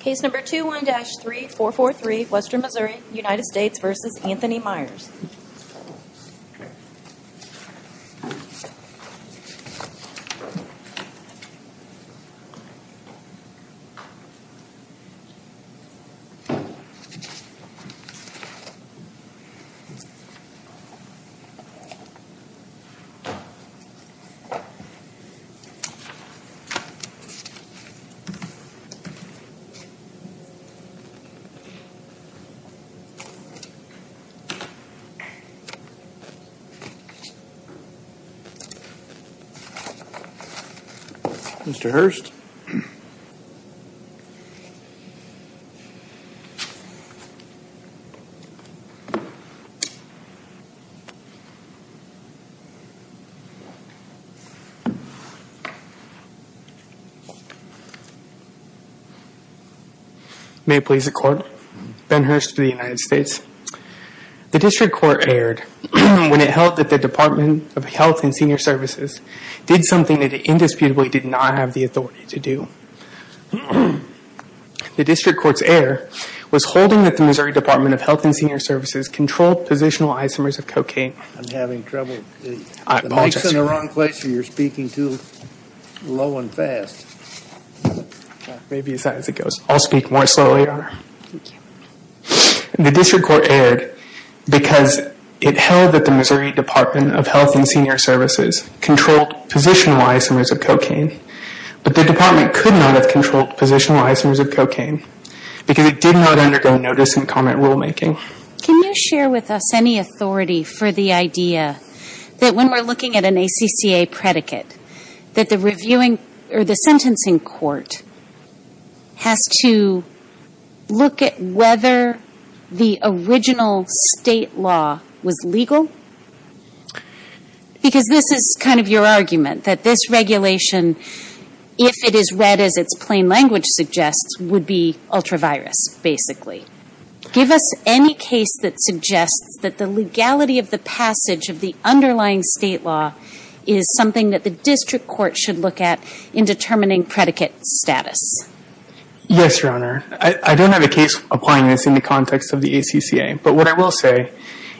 Case number 21-3443, Western Missouri, United States v. Anthony Myers Mr. Hearst? May it please the Court, Ben Hearst of the United States. The District Court erred when it held that the Department of Health and Senior Services did something that it indisputably did not have the authority to do. The District Court's error was holding that the Missouri Department of Health and Senior Services controlled positional isomers of cocaine. The District Court erred because it held that the Missouri Department of Health and Senior Services controlled positional isomers of cocaine, but the Department could not have controlled positional isomers of cocaine because it did not undergo notice and comment rulemaking. Can you share with us any authority for the idea that when we're looking at an ACCA predicate that the sentencing court has to look at whether the original state law was legal? Because this is kind of your argument, that this regulation, if it is read as its plain language suggests, would be ultra-virus, basically. Give us any case that suggests that the legality of the passage of the underlying state law is something that the District Court should look at in determining predicate status. Yes, Your Honor. I don't have a case applying this in the context of the ACCA, but what I will say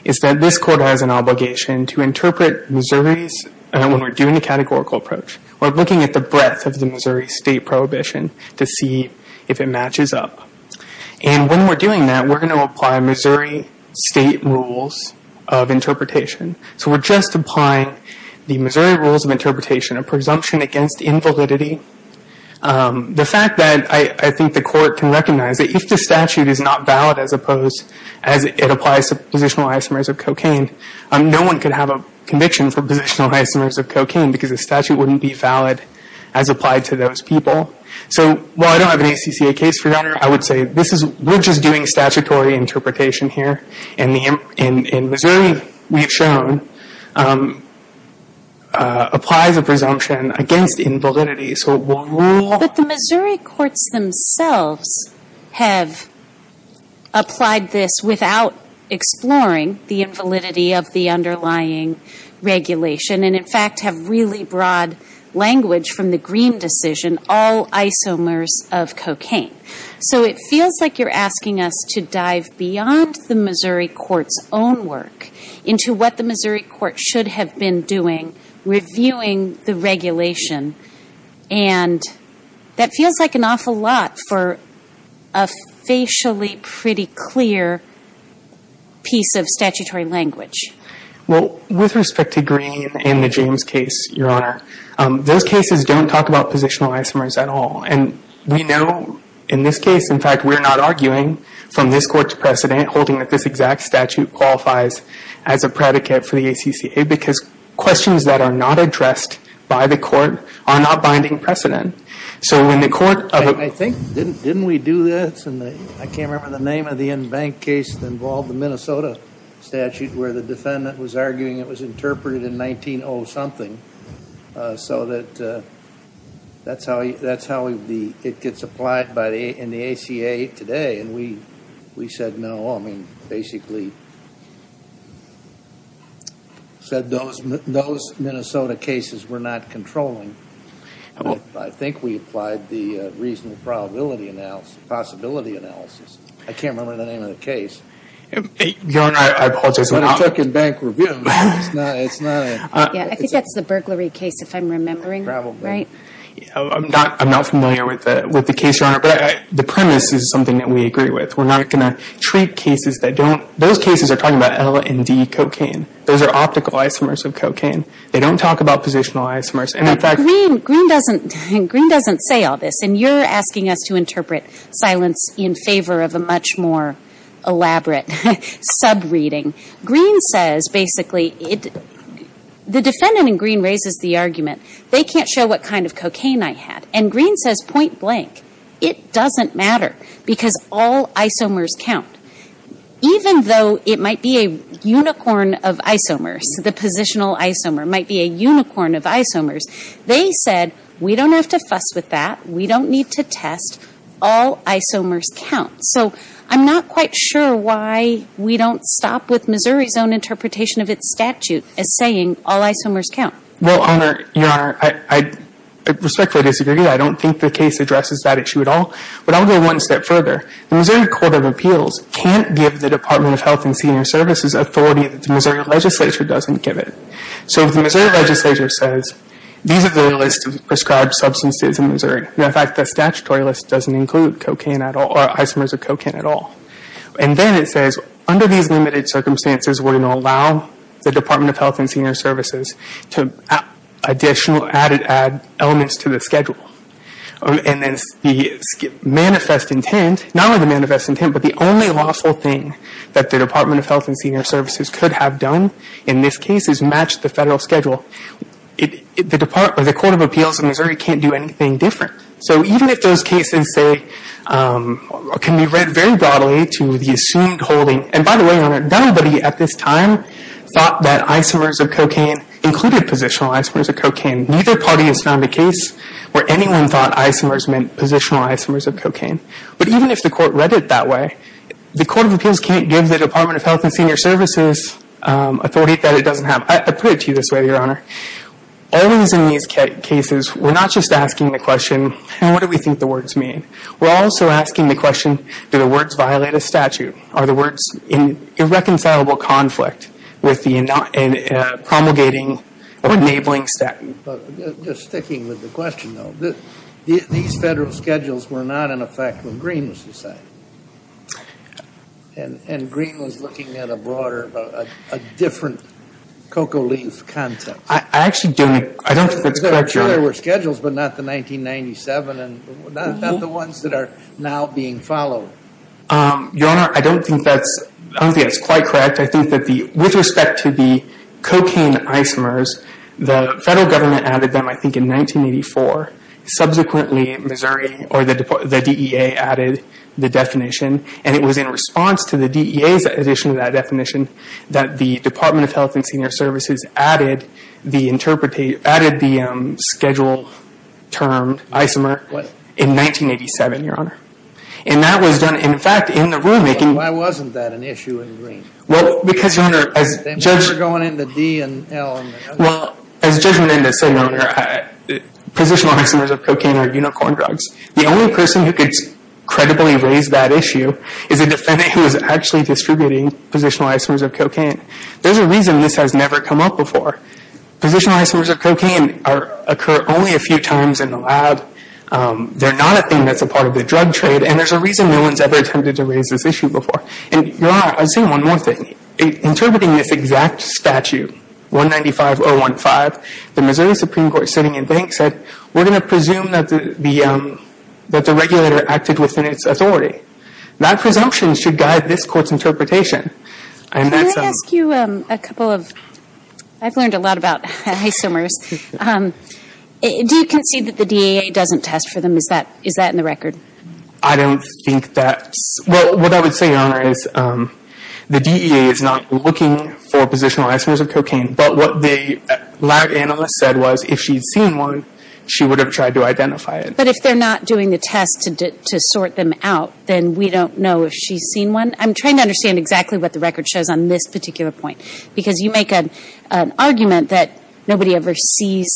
is that this court has an obligation to interpret Missouri's, when we're doing the categorical approach, we're looking at the breadth of the Missouri state prohibition to see if it matches up. And when we're doing that, we're going to apply Missouri state rules of interpretation. So we're just applying the Missouri rules of interpretation, a presumption against invalidity. The fact that I think the court can recognize that if the statute is not valid as opposed to cocaine, no one could have a conviction for positional isomers of cocaine because the statute wouldn't be valid as applied to those people. So while I don't have an ACCA case, Your Honor, I would say this is, we're just doing statutory interpretation here, and Missouri, we've shown, applies a presumption against invalidity, so it will rule. But the Missouri courts themselves have applied this without exploring the invalidity of the underlying regulation and, in fact, have really broad language from the Green decision, all isomers of cocaine. So it feels like you're asking us to dive beyond the Missouri court's own work into what the Missouri court should have been doing, reviewing the regulation, and that feels like an awful lot for a facially pretty clear piece of statutory language. Well, with respect to Green and the James case, Your Honor, those cases don't talk about positional isomers at all, and we know in this case, in fact, we're not arguing from this court's precedent holding that this exact statute qualifies as a predicate for the ACCA because questions that are not addressed by the court are not binding precedent. So when the court of a I think, didn't we do this in the, I can't remember the name of the in-bank case that involved the Minnesota statute where the defendant was arguing it was interpreted in 19-oh-something, so that that's how it gets applied in the ACA today, and we said no, I mean, basically said those Minnesota cases were not controlling, I think we applied the reasonable probability analysis, possibility analysis, I can't remember the name of the case. Your Honor, I apologize. But it took in-bank review, it's not a Yeah, I think that's the burglary case, if I'm remembering. Probably. Right? I'm not familiar with the case, Your Honor, but the premise is something that we agree with. We're not going to treat cases that don't, those cases are talking about L and D cocaine. Those are optical isomers of cocaine. They don't talk about positional isomers, and in fact Green, Green doesn't, Green doesn't say all this, and you're asking us to interpret silence in favor of a much more elaborate sub-reading. Green says basically, the defendant in Green raises the argument, they can't show what kind of cocaine I had. And Green says point blank, it doesn't matter, because all isomers count. Even though it might be a unicorn of isomers, the positional isomer, might be a unicorn of isomers, they said, we don't have to fuss with that, we don't need to test, all isomers count. So I'm not quite sure why we don't stop with Missouri's own interpretation of its statute as saying all isomers count. Well, Your Honor, I respectfully disagree, I don't think the case addresses that issue at all. But I'll go one step further. The Missouri Court of Appeals can't give the Department of Health and Senior Services authority that the Missouri Legislature doesn't give it. So if the Missouri Legislature says, these are the list of prescribed substances in Missouri, and in fact the statutory list doesn't include cocaine at all, or isomers of cocaine at all. And then it says, under these limited circumstances, we're going to allow the Department of Health and Senior Services to add additional, added elements to the schedule. And then the manifest intent, not only the manifest intent, but the only lawful thing that the Department of Health and Senior Services could have done in this case is match the federal schedule. The Court of Appeals in Missouri can't do anything different. So even if those cases say, can be read very broadly to the assumed holding, and by the way, Your Honor, nobody at this time thought that isomers of cocaine included positional isomers of cocaine. Neither party has found a case where anyone thought isomers meant positional isomers of cocaine. But even if the Court read it that way, the Court of Appeals can't give the Department of Health and Senior Services authority that it doesn't have. I put it to you this way, Your Honor. Always in these cases, we're not just asking the question, what do we think the words mean? We're also asking the question, do the words violate a statute? Are the words in irreconcilable conflict with the promulgating or enabling statute? Just sticking with the question, though, these federal schedules were not in effect when Green was deciding. And Green was looking at a broader, a different cocoa leaf context. I actually don't think that's correct, Your Honor. Sure, there were schedules, but not the 1997 and not the ones that are now being followed. Your Honor, I don't think that's quite correct. I think that with respect to the cocaine isomers, the federal government added them, I think, in 1984. Subsequently, Missouri, or the DEA, added the definition. And it was in response to the DEA's addition to that definition that the Department of Health and Senior Services added the schedule term isomer in 1987, Your Honor. And that was done, in fact, in the rulemaking. But why wasn't that an issue in Green? Well, because, Your Honor, as Judge... They were going into D and L and... Well, as Judge Menendez said, Your Honor, positional isomers of cocaine are unicorn drugs. The only person who could credibly raise that issue is a defendant who was actually distributing positional isomers of cocaine. There's a reason this has never come up before. Positional isomers of cocaine occur only a few times in the lab. They're not a thing that's a part of the drug trade. And there's a reason no one's ever attempted to raise this issue before. And, Your Honor, I'll say one more thing. Interpreting this exact statute, 195-015, the Missouri Supreme Court, sitting in bank, said, we're going to presume that the regulator acted within its authority. That presumption should guide this Court's interpretation. And that's... Can I ask you a couple of... I've learned a lot about isomers. Do you concede that the DEA doesn't test for them? Is that in the record? I don't think that's... Well, what I would say, Your Honor, is the DEA is not looking for positional isomers of cocaine. But what the lab analyst said was, if she'd seen one, she would have tried to identify it. But if they're not doing the test to sort them out, then we don't know if she's seen one? I'm trying to understand exactly what the record shows on this particular point. Because you make an argument that nobody ever sees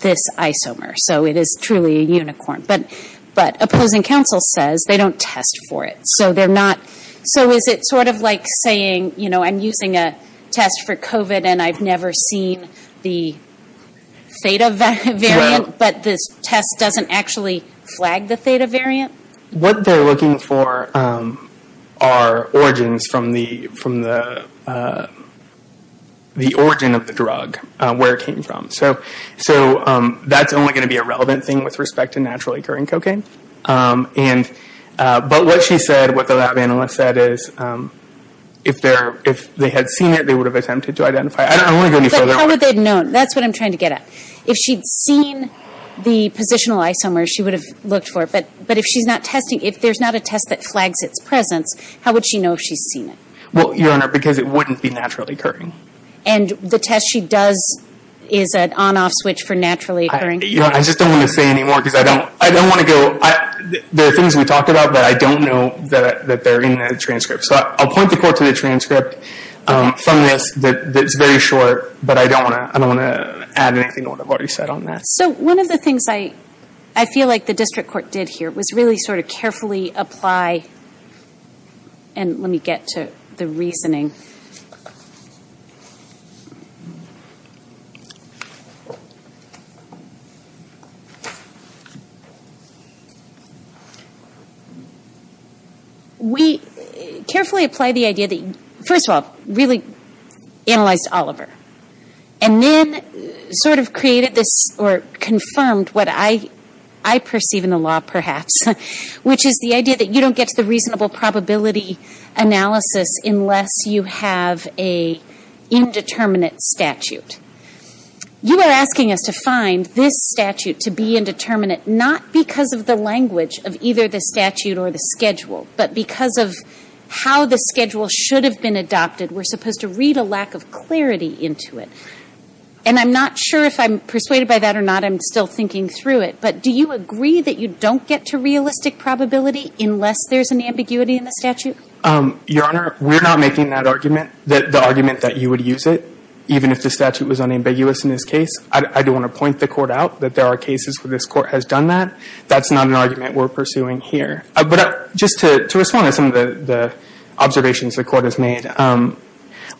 this isomer. So it is truly a unicorn. But opposing counsel says they don't test for it. So they're not... So is it sort of like saying, you know, I'm using a test for COVID and I've never seen the theta variant, but this test doesn't actually flag the theta variant? What they're looking for are origins from the origin of the drug, where it came from. So that's only going to be a relevant thing with respect to naturally occurring cocaine. But what she said, what the lab analyst said is, if they had seen it, they would have attempted to identify it. I don't want to go any further. But how would they have known? That's what I'm trying to get at. If she'd seen the positional isomer, she would have looked for it. But if she's not testing, if there's not a test that flags its presence, how would she know if she's seen it? Well, Your Honor, because it wouldn't be naturally occurring. And the test she does is an on-off switch for naturally occurring? Your Honor, I just don't want to say any more because I don't want to go... There are things we talked about that I don't know that they're in the transcript. So I'll point the court to the transcript from this that's very short. But I don't want to add anything to what I've already said on that. So one of the things I feel like the district court did here was really sort of carefully apply... And let me get to the reasoning. We carefully applied the idea that... First of all, really analyzed Oliver. And then sort of created this or confirmed what I perceive in the law, perhaps, which is the idea that you don't get to the reasonable probability analysis unless you have an indeterminate statute. You are asking us to find this statute to be indeterminate not because of the language of either the statute or the schedule, but because of how the schedule should have been adopted. We're supposed to read a lack of clarity into it. And I'm not sure if I'm persuaded by that or not. I'm still thinking through it. But do you agree that you don't get to realistic probability unless there's an ambiguity in the statute? Your Honor, we're not making that argument, the argument that you would use it, even if the statute was unambiguous in this case. I do want to point the court out that there are cases where this court has done that. That's not an argument we're pursuing here. But just to respond to some of the observations the court has made,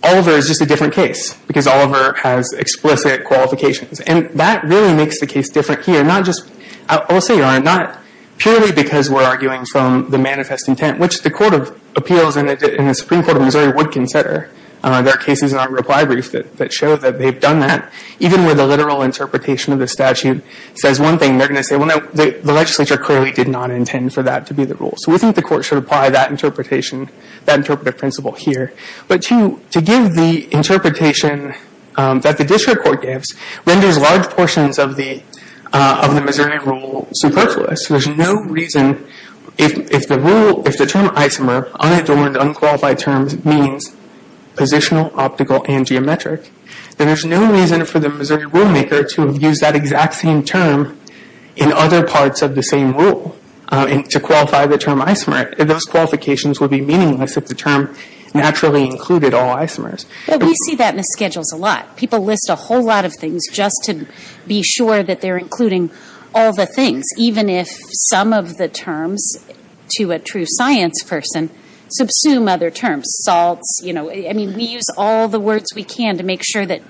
Oliver is just a different case because Oliver has explicit qualifications. And that really makes the case different here, not just... I will say, Your Honor, not purely because we're arguing from the manifest intent, which the Court of Appeals and the Supreme Court of Missouri would consider. There are cases in our reply brief that show that they've done that. Even where the literal interpretation of the statute says one thing, they're going to say, well, no, the legislature clearly did not intend for that to be the rule. So we think the court should apply that interpretation, that interpretive principle here. But to give the interpretation that the district court gives renders large portions of the Missouri rule superfluous. There's no reason, if the rule, if the term isomer, unadulterated, unqualified terms, means positional, optical, and geometric, then there's no reason for the Missouri rulemaker to have used that exact same term in other parts of the same rule to qualify the term isomer. Those qualifications would be meaningless if the term naturally included all isomers. But we see that in the schedules a lot. People list a whole lot of things just to be sure that they're including all the things, even if some of the terms, to a true science person, subsume other terms. I mean, we use all the words we can to make sure that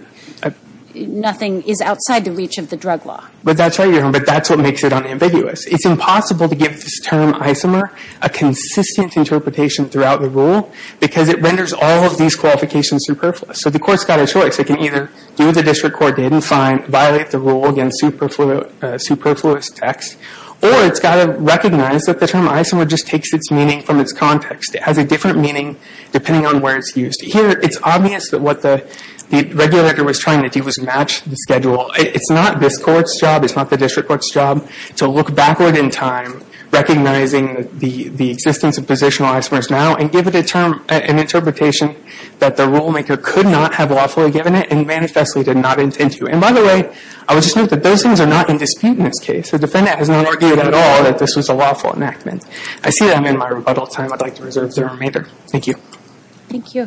nothing is outside the reach of the drug law. But that's what makes it unambiguous. It's impossible to give this term isomer a consistent interpretation throughout the rule because it renders all of these qualifications superfluous. So the court's got a choice. It can either do what the district court did and fine, violate the rule, again, superfluous text. Or it's got to recognize that the term isomer just takes its meaning from its context. It has a different meaning depending on where it's used. Here, it's obvious that what the regulator was trying to do was match the schedule. It's not this court's job. It's not the district court's job to look backward in time, recognizing the existence of positional isomers now and give it an interpretation that the rulemaker could not have lawfully given it and manifestly did not intend to. And by the way, I would just note that those things are not in dispute in this case. The defendant has not argued at all that this was a lawful enactment. I see I'm in my rebuttal time. I'd like to reserve the remainder. Thank you. Thank you.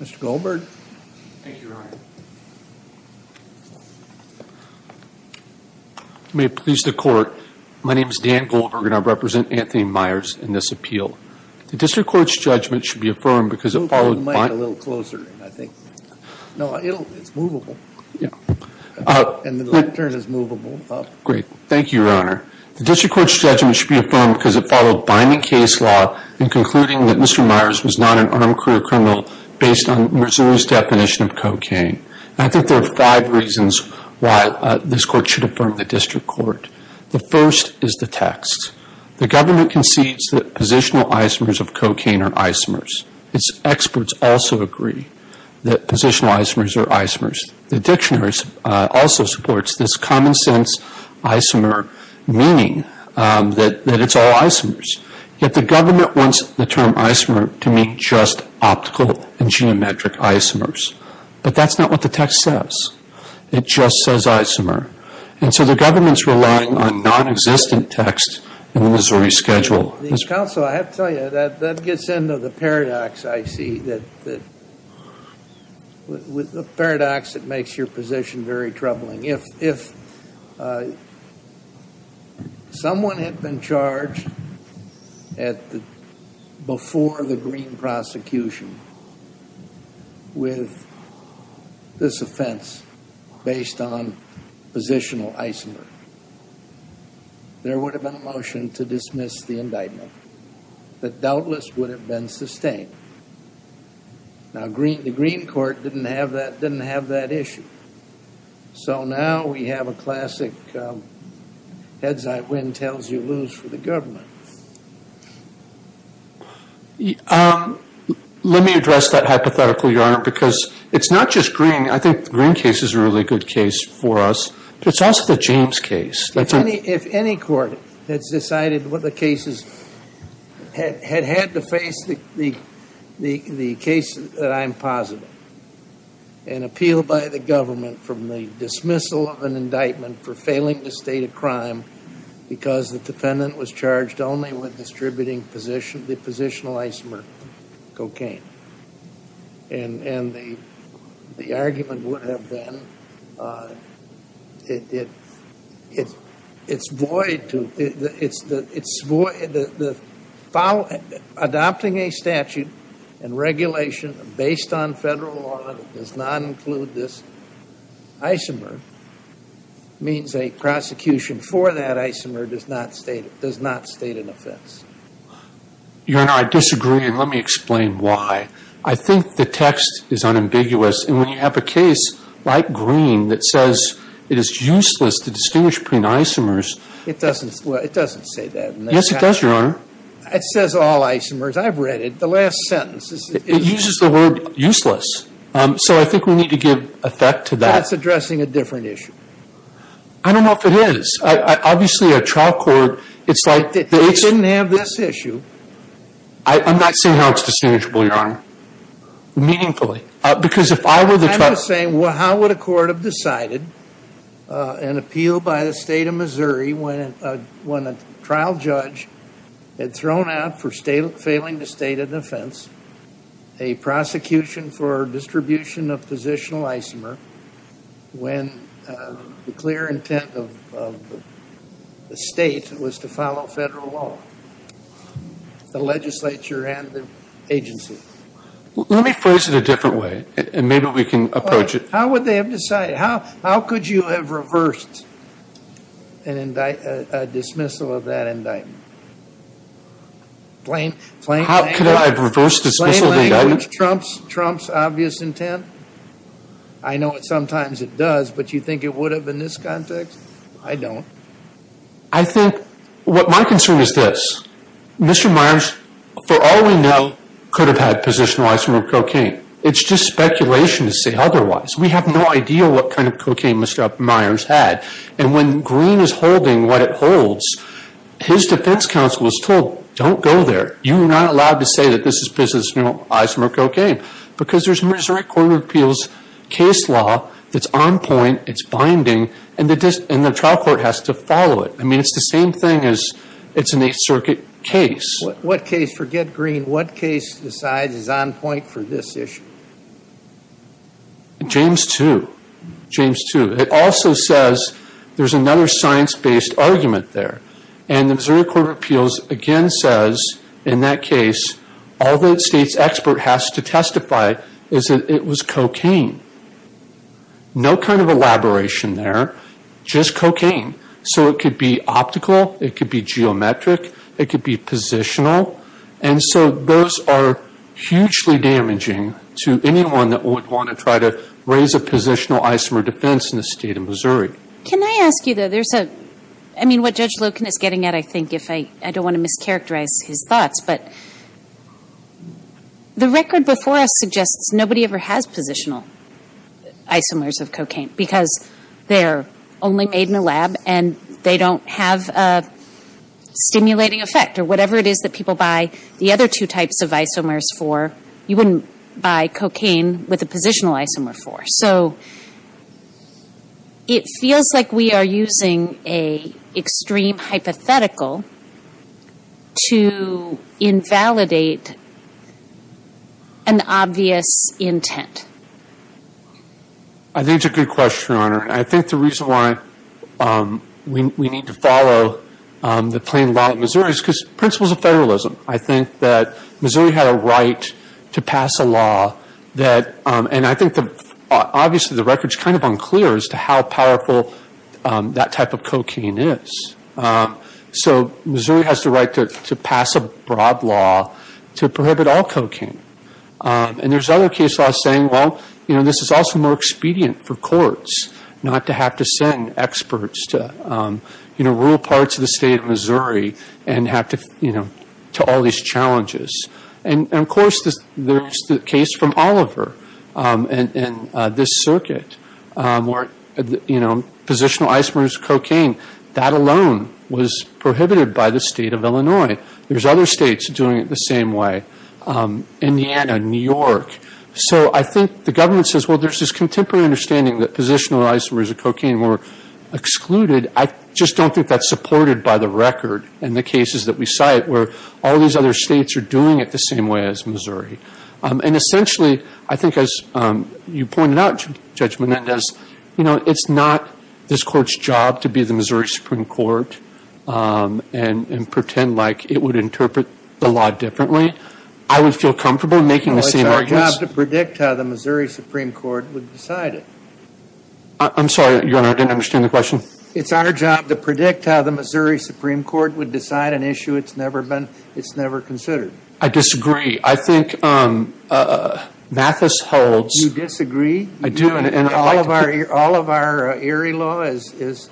Mr. Goldberg. Thank you, Your Honor. May it please the court, my name is Dan Goldberg and I represent Anthony Myers in this appeal. The district court's judgment should be affirmed because it followed binding case law in concluding that Mr. Myers was not an armed career criminal based on Missouri's definition of cocaine. And I think there are five reasons why this court should affirm the district court. The first is the text. The government concedes that positional isomers of cocaine are isomers. Its experts also agree that positional isomers are isomers. The dictionary also supports this common sense isomer meaning that it's all isomers. Yet the government wants the term isomer to mean just optical and geometric isomers. But that's not what the text says. It just says isomer. And so the government's relying on nonexistent text in the Missouri schedule. Counsel, I have to tell you, that gets into the paradox I see. The paradox that makes your position very troubling. If someone had been charged before the Green prosecution with this offense based on positional isomer, there would have been a motion to dismiss the indictment. That doubtless would have been sustained. Now the Green court didn't have that issue. So now we have a classic heads I win, tails you lose for the government. Let me address that hypothetical, Your Honor, because it's not just Green. I think the Green case is a really good case for us. It's also the James case. If any court had decided what the cases had had to face, the case that I'm positive, an appeal by the government from the dismissal of an indictment for failing the state of crime because the defendant was charged only with distributing positional isomer cocaine. And the argument would have been it's void, adopting a statute and regulation based on federal law that does not include this isomer means a prosecution for that isomer does not state an offense. Your Honor, I disagree. And let me explain why. I think the text is unambiguous. And when you have a case like Green that says it is useless to distinguish between isomers. It doesn't say that. Yes, it does, Your Honor. It says all isomers. I've read it. The last sentence. It uses the word useless. So I think we need to give effect to that. That's addressing a different issue. I don't know if it is. Obviously, a trial court, it's like. They didn't have this issue. I'm not saying how it's distinguishable, Your Honor. Meaningfully. Because if I were the. I'm just saying how would a court have decided an appeal by the state of Missouri when a trial judge had thrown out for failing the state of defense a prosecution for distribution of positional isomer when the clear intent of the state was to follow federal law, the legislature and the agency? Let me phrase it a different way. And maybe we can approach it. How would they have decided? How could you have reversed a dismissal of that indictment? Plain language. How could I have reversed dismissal of the indictment? Plain language. Trump's obvious intent. I know sometimes it does, but you think it would have in this context? I don't. I think. My concern is this. Mr. Myers, for all we know, could have had positional isomer cocaine. It's just speculation to say otherwise. We have no idea what kind of cocaine Mr. Myers had. And when Green is holding what it holds, his defense counsel is told, don't go there. You are not allowed to say that this is positional isomer cocaine. Because there's Missouri Court of Appeals case law that's on point, it's binding, and the trial court has to follow it. I mean, it's the same thing as it's an Eighth Circuit case. What case? Forget Green. What case decides is on point for this issue? James 2. James 2. It also says there's another science-based argument there. And the Missouri Court of Appeals again says, in that case, all the state's expert has to testify is that it was cocaine. No kind of elaboration there. Just cocaine. So it could be optical. It could be geometric. It could be positional. And so those are hugely damaging to anyone that would want to try to raise a positional isomer defense in the state of Missouri. Can I ask you, though? I mean, what Judge Loken is getting at, I think, if I don't want to mischaracterize his thoughts, but the record before us suggests nobody ever has positional isomers of cocaine because they're only made in a lab and they don't have a stimulating effect. Or whatever it is that people buy the other two types of isomers for, you wouldn't buy cocaine with a positional isomer for. So it feels like we are using an extreme hypothetical to invalidate an obvious intent. I think it's a good question, Your Honor. I think the reason why we need to follow the plain law in Missouri is because principles of federalism. I think that Missouri had a right to pass a law that, and I think obviously the record is kind of unclear as to how powerful that type of cocaine is. So Missouri has the right to pass a broad law to prohibit all cocaine. And there's other case laws saying, well, you know, this is also more expedient for courts not to have to send experts to, you know, rural parts of the state of Missouri and have to, you know, to all these challenges. And, of course, there's the case from Oliver and this circuit where, you know, positional isomers of cocaine, that alone was prohibited by the state of Illinois. There's other states doing it the same way. Indiana, New York. So I think the government says, well, there's this contemporary understanding that positional isomers of cocaine were excluded. I just don't think that's supported by the record in the cases that we cite where all these other states are doing it the same way as Missouri. And essentially, I think as you pointed out, Judge Menendez, you know, it's not this court's job to be the Missouri Supreme Court and pretend like it would interpret the law differently. I would feel comfortable making the same arguments. Well, it's our job to predict how the Missouri Supreme Court would decide it. I'm sorry, Your Honor. I didn't understand the question. It's our job to predict how the Missouri Supreme Court would decide an issue it's never considered. I disagree. I think Mathis holds. You disagree? I do. All of our Erie law is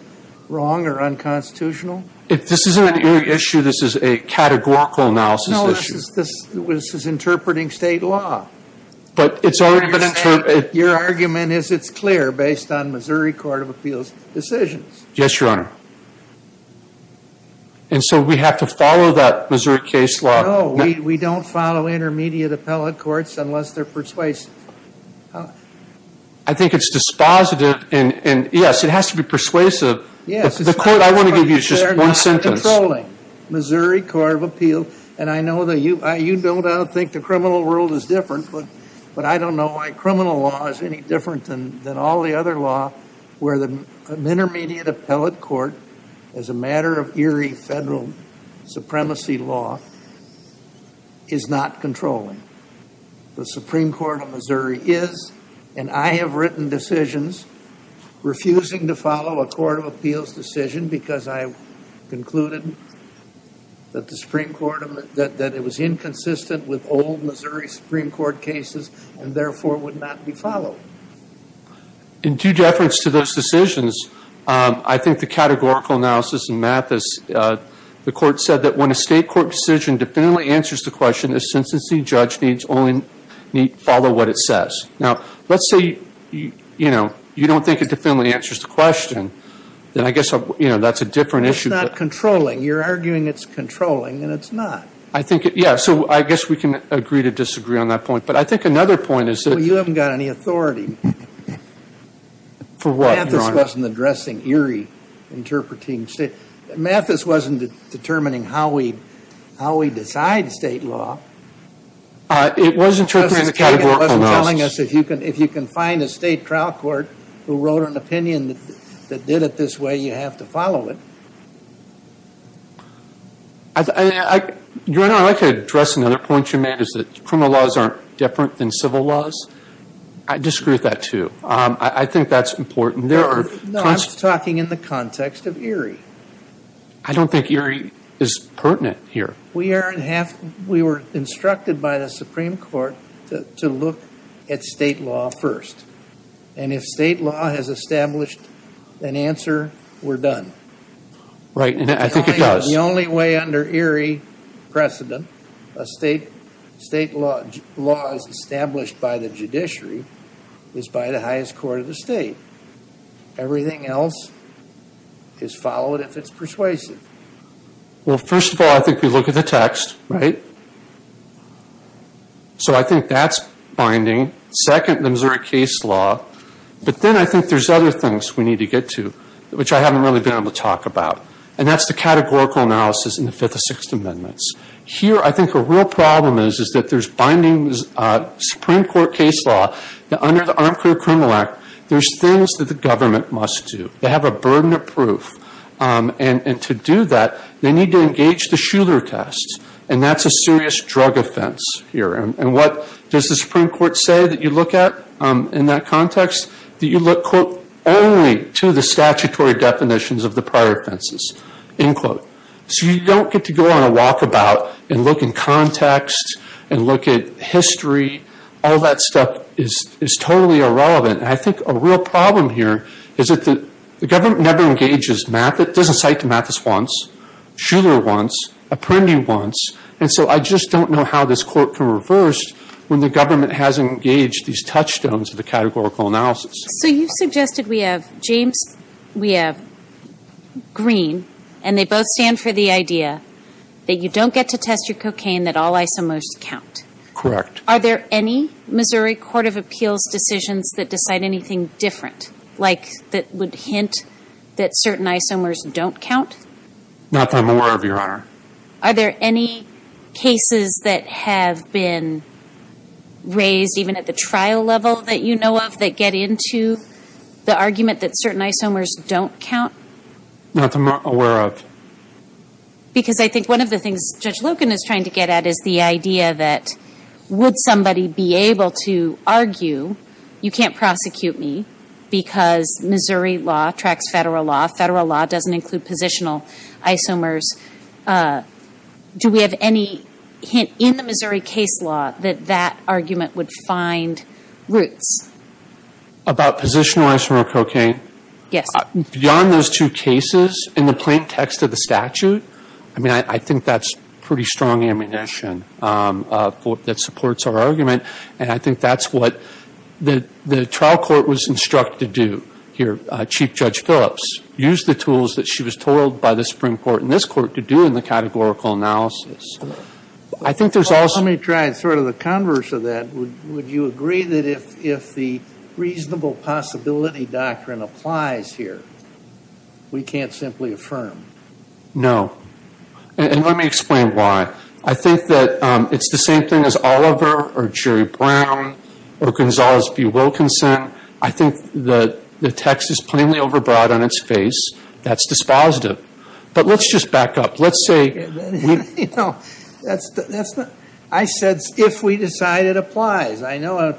wrong or unconstitutional? This isn't an Erie issue. This is a categorical analysis issue. This is interpreting state law. But it's already been interpreted. Your argument is it's clear based on Missouri Court of Appeals decisions. Yes, Your Honor. And so we have to follow that Missouri case law. No, we don't follow intermediate appellate courts unless they're persuasive. I think it's dispositive. And, yes, it has to be persuasive. But the court I want to give you is just one sentence. It's not controlling Missouri Court of Appeals. And I know that you don't think the criminal world is different, but I don't know why criminal law is any different than all the other law where an intermediate appellate court, as a matter of Erie federal supremacy law, is not controlling. The Supreme Court of Missouri is, and I have written decisions, refusing to follow a court of appeals decision because I concluded that it was inconsistent with old Missouri Supreme Court cases and, therefore, would not be followed. In due deference to those decisions, I think the categorical analysis and math is the court said that when a state court decision definitively answers the question, a sentencing judge needs only follow what it says. Now, let's say, you know, you don't think it definitively answers the question, then I guess, you know, that's a different issue. It's not controlling. You're arguing it's controlling, and it's not. I think, yeah, so I guess we can agree to disagree on that point. But I think another point is that- Well, you haven't got any authority. For what, Your Honor? Mathis wasn't addressing Erie interpreting state. Mathis wasn't determining how we decide state law. It was interpreting the categorical analysis. Justice Kagan wasn't telling us if you can find a state trial court who wrote an opinion that did it this way, you have to follow it. Your Honor, I'd like to address another point you made, is that criminal laws aren't different than civil laws. I disagree with that, too. I think that's important. No, I'm talking in the context of Erie. I don't think Erie is pertinent here. We were instructed by the Supreme Court to look at state law first. And if state law has established an answer, we're done. Right, and I think it does. The only way under Erie precedent a state law is established by the judiciary is by the highest court of the state. Everything else is followed if it's persuasive. Well, first of all, I think we look at the text, right? So I think that's binding. Second, the Missouri case law. But then I think there's other things we need to get to, which I haven't really been able to talk about. And that's the categorical analysis in the Fifth and Sixth Amendments. Here, I think the real problem is that there's binding Supreme Court case law. Under the Armed Career Criminal Act, there's things that the government must do. They have a burden of proof. And to do that, they need to engage the Schuler test. And that's a serious drug offense here. And what does the Supreme Court say that you look at in that context? That you look, quote, only to the statutory definitions of the prior offenses, end quote. So you don't get to go on a walkabout and look in context and look at history. All that stuff is totally irrelevant. And I think a real problem here is that the government never engages Mathis. It doesn't cite to Mathis once, Schuler once, Apprendi once. And so I just don't know how this court can reverse when the government has engaged these touchstones of the categorical analysis. So you suggested we have James, we have Green, and they both stand for the idea that you don't get to test your cocaine, that all isomers count. Correct. Are there any Missouri Court of Appeals decisions that decide anything different, like that would hint that certain isomers don't count? Not that I'm aware of, Your Honor. Are there any cases that have been raised even at the trial level that you know of that get into the argument that certain isomers don't count? Not that I'm aware of. Because I think one of the things Judge Loken is trying to get at is the idea that would somebody be able to argue you can't prosecute me because Missouri law tracks federal law, federal law doesn't include positional isomers. Do we have any hint in the Missouri case law that that argument would find roots? About positional isomer cocaine? Yes. Beyond those two cases, in the plain text of the statute, I mean, I think that's pretty strong ammunition that supports our argument, and I think that's what the trial court was instructed to do here. Chief Judge Phillips used the tools that she was told by the Supreme Court and this Court to do in the categorical analysis. Let me try sort of the converse of that. Would you agree that if the reasonable possibility doctrine applies here, we can't simply affirm? No. And let me explain why. I think that it's the same thing as Oliver or Jerry Brown or Gonzales v. Wilkinson. I think the text is plainly overbroad on its face. That's dispositive. But let's just back up. You know, I said if we decide it applies. I know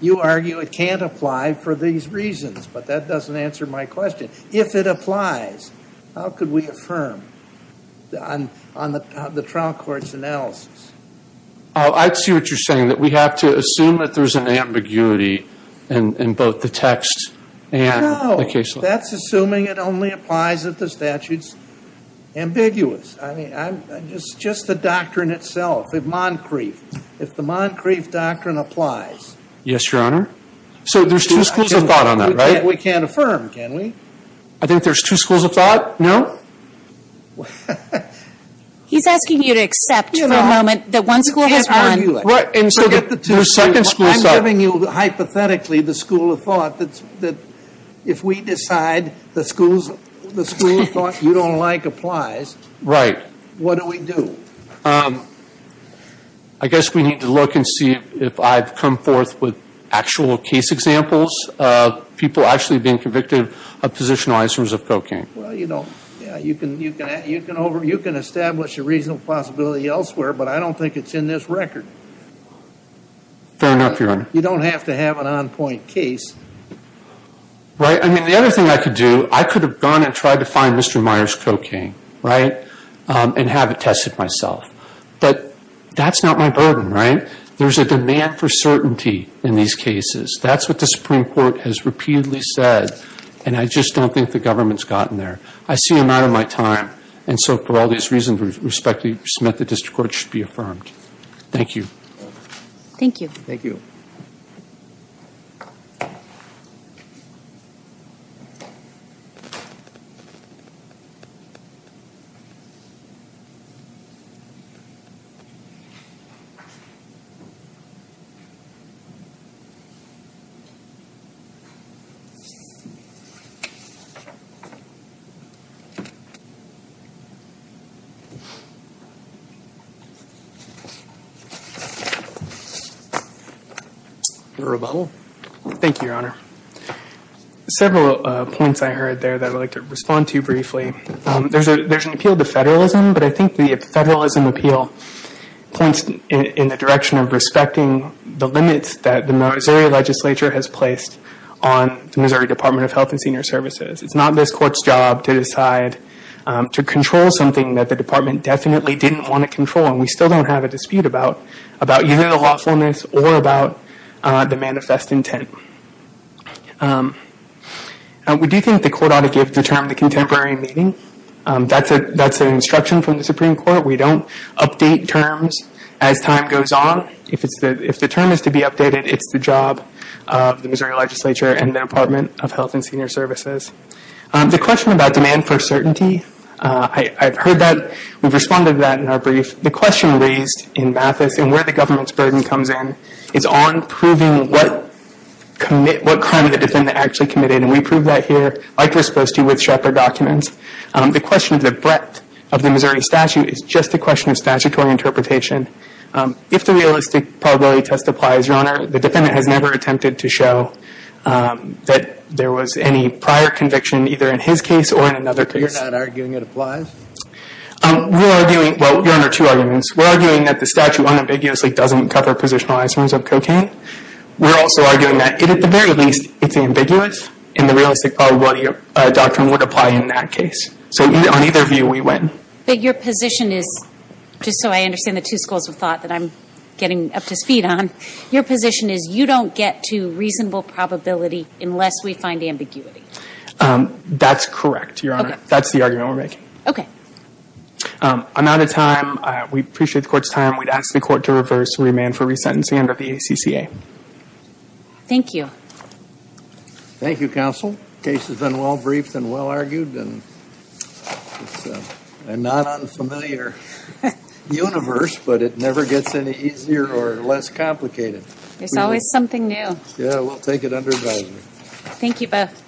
you argue it can't apply for these reasons, but that doesn't answer my question. If it applies, how could we affirm on the trial court's analysis? I see what you're saying, that we have to assume that there's an ambiguity in both the text and the case law. That's assuming it only applies if the statute's ambiguous. I mean, just the doctrine itself, the Moncrief. If the Moncrief doctrine applies. Yes, Your Honor. So there's two schools of thought on that, right? We can't affirm, can we? I think there's two schools of thought. No? He's asking you to accept for a moment that one school has one. I'm giving you, hypothetically, the school of thought that if we decide the school of thought you don't like applies. Right. What do we do? I guess we need to look and see if I've come forth with actual case examples of people actually being convicted of positionalized terms of cocaine. Well, you know, you can establish a reasonable possibility elsewhere, but I don't think it's in this record. Fair enough, Your Honor. You don't have to have an on-point case. Right. I mean, the other thing I could do, I could have gone and tried to find Mr. Myers' cocaine, right, and have it tested myself. But that's not my burden, right? There's a demand for certainty in these cases. That's what the Supreme Court has repeatedly said, and I just don't think the government's gotten there. I see I'm out of my time, and so for all these reasons, Respectee Smith, the district court should be affirmed. Thank you. Thank you. Thank you. Thank you, Your Honor. Several points I heard there that I'd like to respond to briefly. There's an appeal to federalism, but I think the federalism appeal points in the direction of respecting the limits that the Missouri legislature has placed on the Missouri Department of Health and Senior Services. It's not this court's job to decide to control something that the department definitely didn't want to control, and we still don't have a dispute about either the lawfulness or about the manifest intent. We do think the court ought to give the term the contemporary meaning. That's an instruction from the Supreme Court. We don't update terms as time goes on. If the term is to be updated, it's the job of the Missouri legislature and the Department of Health and Senior Services. The question about demand for certainty, I've heard that. We've responded to that in our brief. The question raised in Mathis and where the government's burden comes in is on proving what crime the defendant actually committed, and we prove that here, like we're supposed to with Shepard documents. The question of the breadth of the Missouri statute is just a question of statutory interpretation. If the realistic probability test applies, Your Honor, the defendant has never attempted to show that there was any prior conviction, either in his case or in another case. You're not arguing it applies? We're arguing, well, Your Honor, two arguments. We're arguing that the statute unambiguously doesn't cover positionalized forms of cocaine. We're also arguing that, at the very least, it's ambiguous, and the realistic probability doctrine would apply in that case. So on either view, we win. But your position is, just so I understand the two schools of thought that I'm getting up to speed on, your position is you don't get to reasonable probability unless we find ambiguity. That's correct, Your Honor. Okay. That's the argument we're making. Okay. I'm out of time. We appreciate the Court's time. We'd ask the Court to reverse remand for resentencing under the ACCA. Thank you. Thank you, Counsel. The case has been well-briefed and well-argued, and it's a not unfamiliar universe, but it never gets any easier or less complicated. There's always something new. Yeah, we'll take it under advisory. Thank you both.